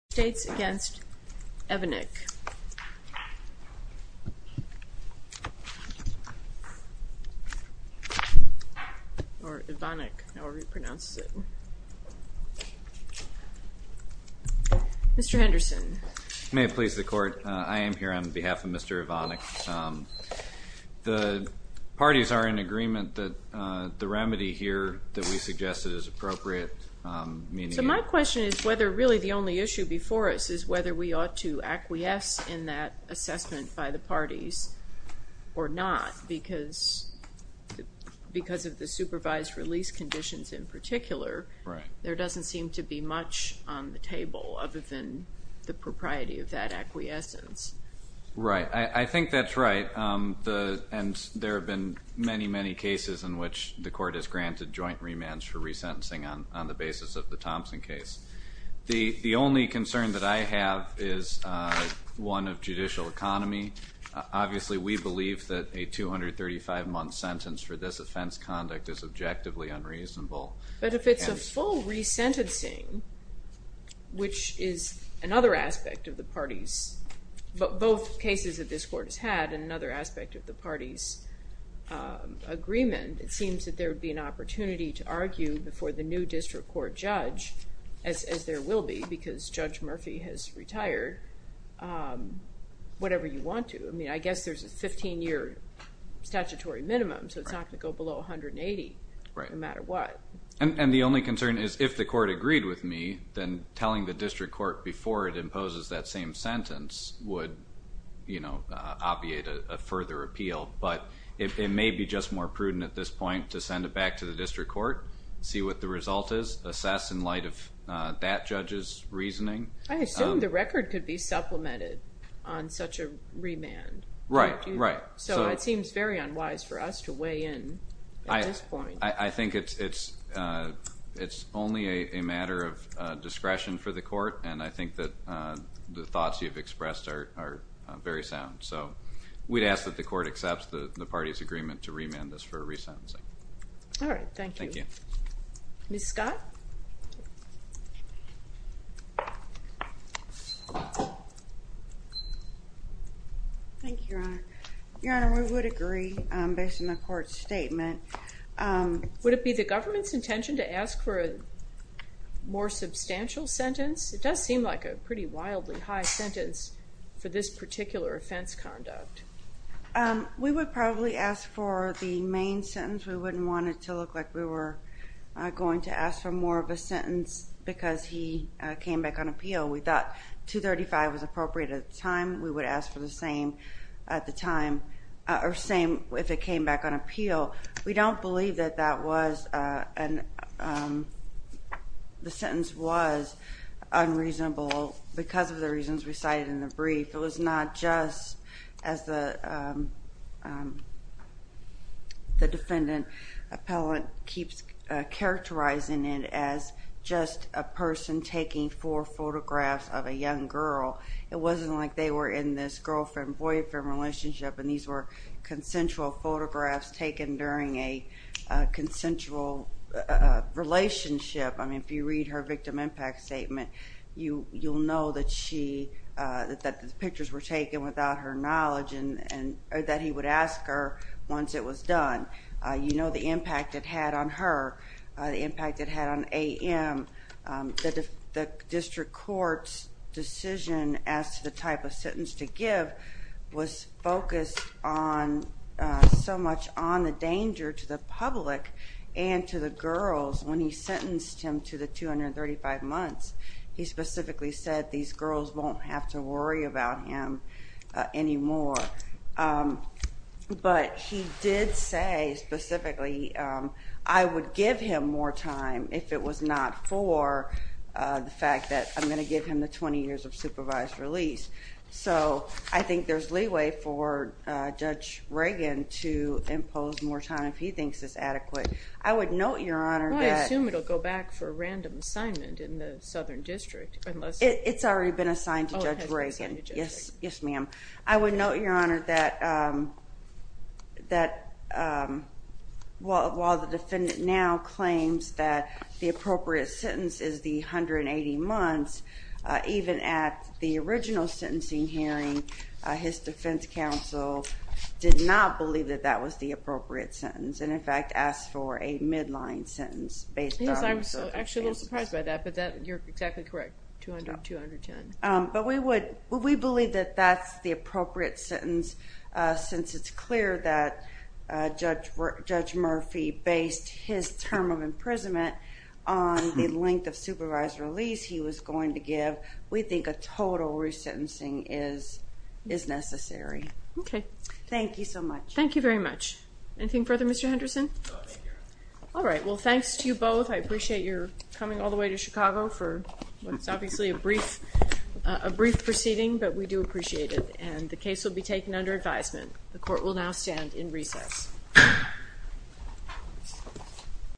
States against Evanick or Evanick however he pronounces it. Mr. Henderson. May it please the court I am here on behalf of Mr. Evanick. The parties are in agreement that the remedy here that we suggested is appropriate. So my question is whether really the only issue before us is whether we ought to acquiesce in that assessment by the parties or not because because of the supervised release conditions in particular. Right. There doesn't seem to be much on the table other than the propriety of that acquiescence. Right I think that's right the and there have been many many cases in which the court has granted joint remands for resentencing on the basis of the Thompson case. The only concern that I have is one of judicial economy. Obviously we believe that a 235 month sentence for this offense conduct is objectively unreasonable. But if it's a full resentencing which is another aspect of the parties but both cases that this court has had and another aspect of the party's agreement it seems that there would be an opportunity to argue before the new district court judge as there will be because Judge Murphy has retired whatever you want to. I mean I guess there's a 15 year statutory minimum so it's not going to go below 180. Right. No matter what. And the only concern is if the court agreed with me then telling the district court before it imposes that same sentence would you know obviate a further appeal. But it may be just more prudent at this point to send it back to the district court see what the result is assess in light of that judge's reasoning. I assume the record could be supplemented on such a remand. Right. So it seems very unwise for us to weigh in. I think it's only a matter of discretion for the court and I think that the thoughts you've expressed are very sound. So we'd ask that the court accepts the party's remand this for a resentencing. All right. Thank you. Thank you. Ms. Scott. Thank you, Your Honor. Your Honor, we would agree based on the court's statement. Would it be the government's intention to ask for a more substantial sentence? It does seem like a pretty wildly high sentence for this particular offense conduct. We would probably ask for the main sentence. We wouldn't want it to look like we were going to ask for more of a sentence because he came back on appeal. We thought 235 was appropriate at the time. We would ask for the same at the time or same if it came back on appeal. We don't believe that that was and the sentence was unreasonable because of the reasons we cited in the brief. It was not just as the defendant appellant keeps characterizing it as just a person taking four photographs of a young girl. It wasn't like they were in this girlfriend-boyfriend relationship and these were consensual photographs taken during a consensual relationship. I mean if you read her victim impact statement you'll know that the pictures were taken without her knowledge and that he would ask her once it was done. You know the impact it had on her, the impact it had on A.M. The district court's decision as to the type of sentence to give was focused on so much on the danger to the public and to the girls when he was sentenced to 235 months. He specifically said these girls won't have to worry about him anymore. But he did say specifically I would give him more time if it was not for the fact that I'm going to give him the 20 years of supervised release. So I think there's leeway for Judge Reagan to impose more time if he thinks it's adequate. I would note your honor that I assume it'll go back for a random assignment in the southern district. It's already been assigned to Judge Reagan. Yes, yes ma'am. I would note your honor that while the defendant now claims that the appropriate sentence is the 180 months, even at the original sentencing hearing his defense counsel did not believe that that was the appropriate sentence and in fact asked for a midline sentence based on... Yes, I was actually a little surprised by that, but you're exactly correct, 210. But we believe that that's the appropriate sentence since it's clear that Judge Murphy based his term of imprisonment on the length of supervised release he was going to give. We think a total resentencing is necessary. Okay. Thank you so much. Thank you very much. Anything further Mr. Henderson? All right, well thanks to you both. I appreciate your coming all the way to Chicago for what's obviously a brief proceeding, but we do appreciate it and the case will be taken under advisement. The court will now stand in recess.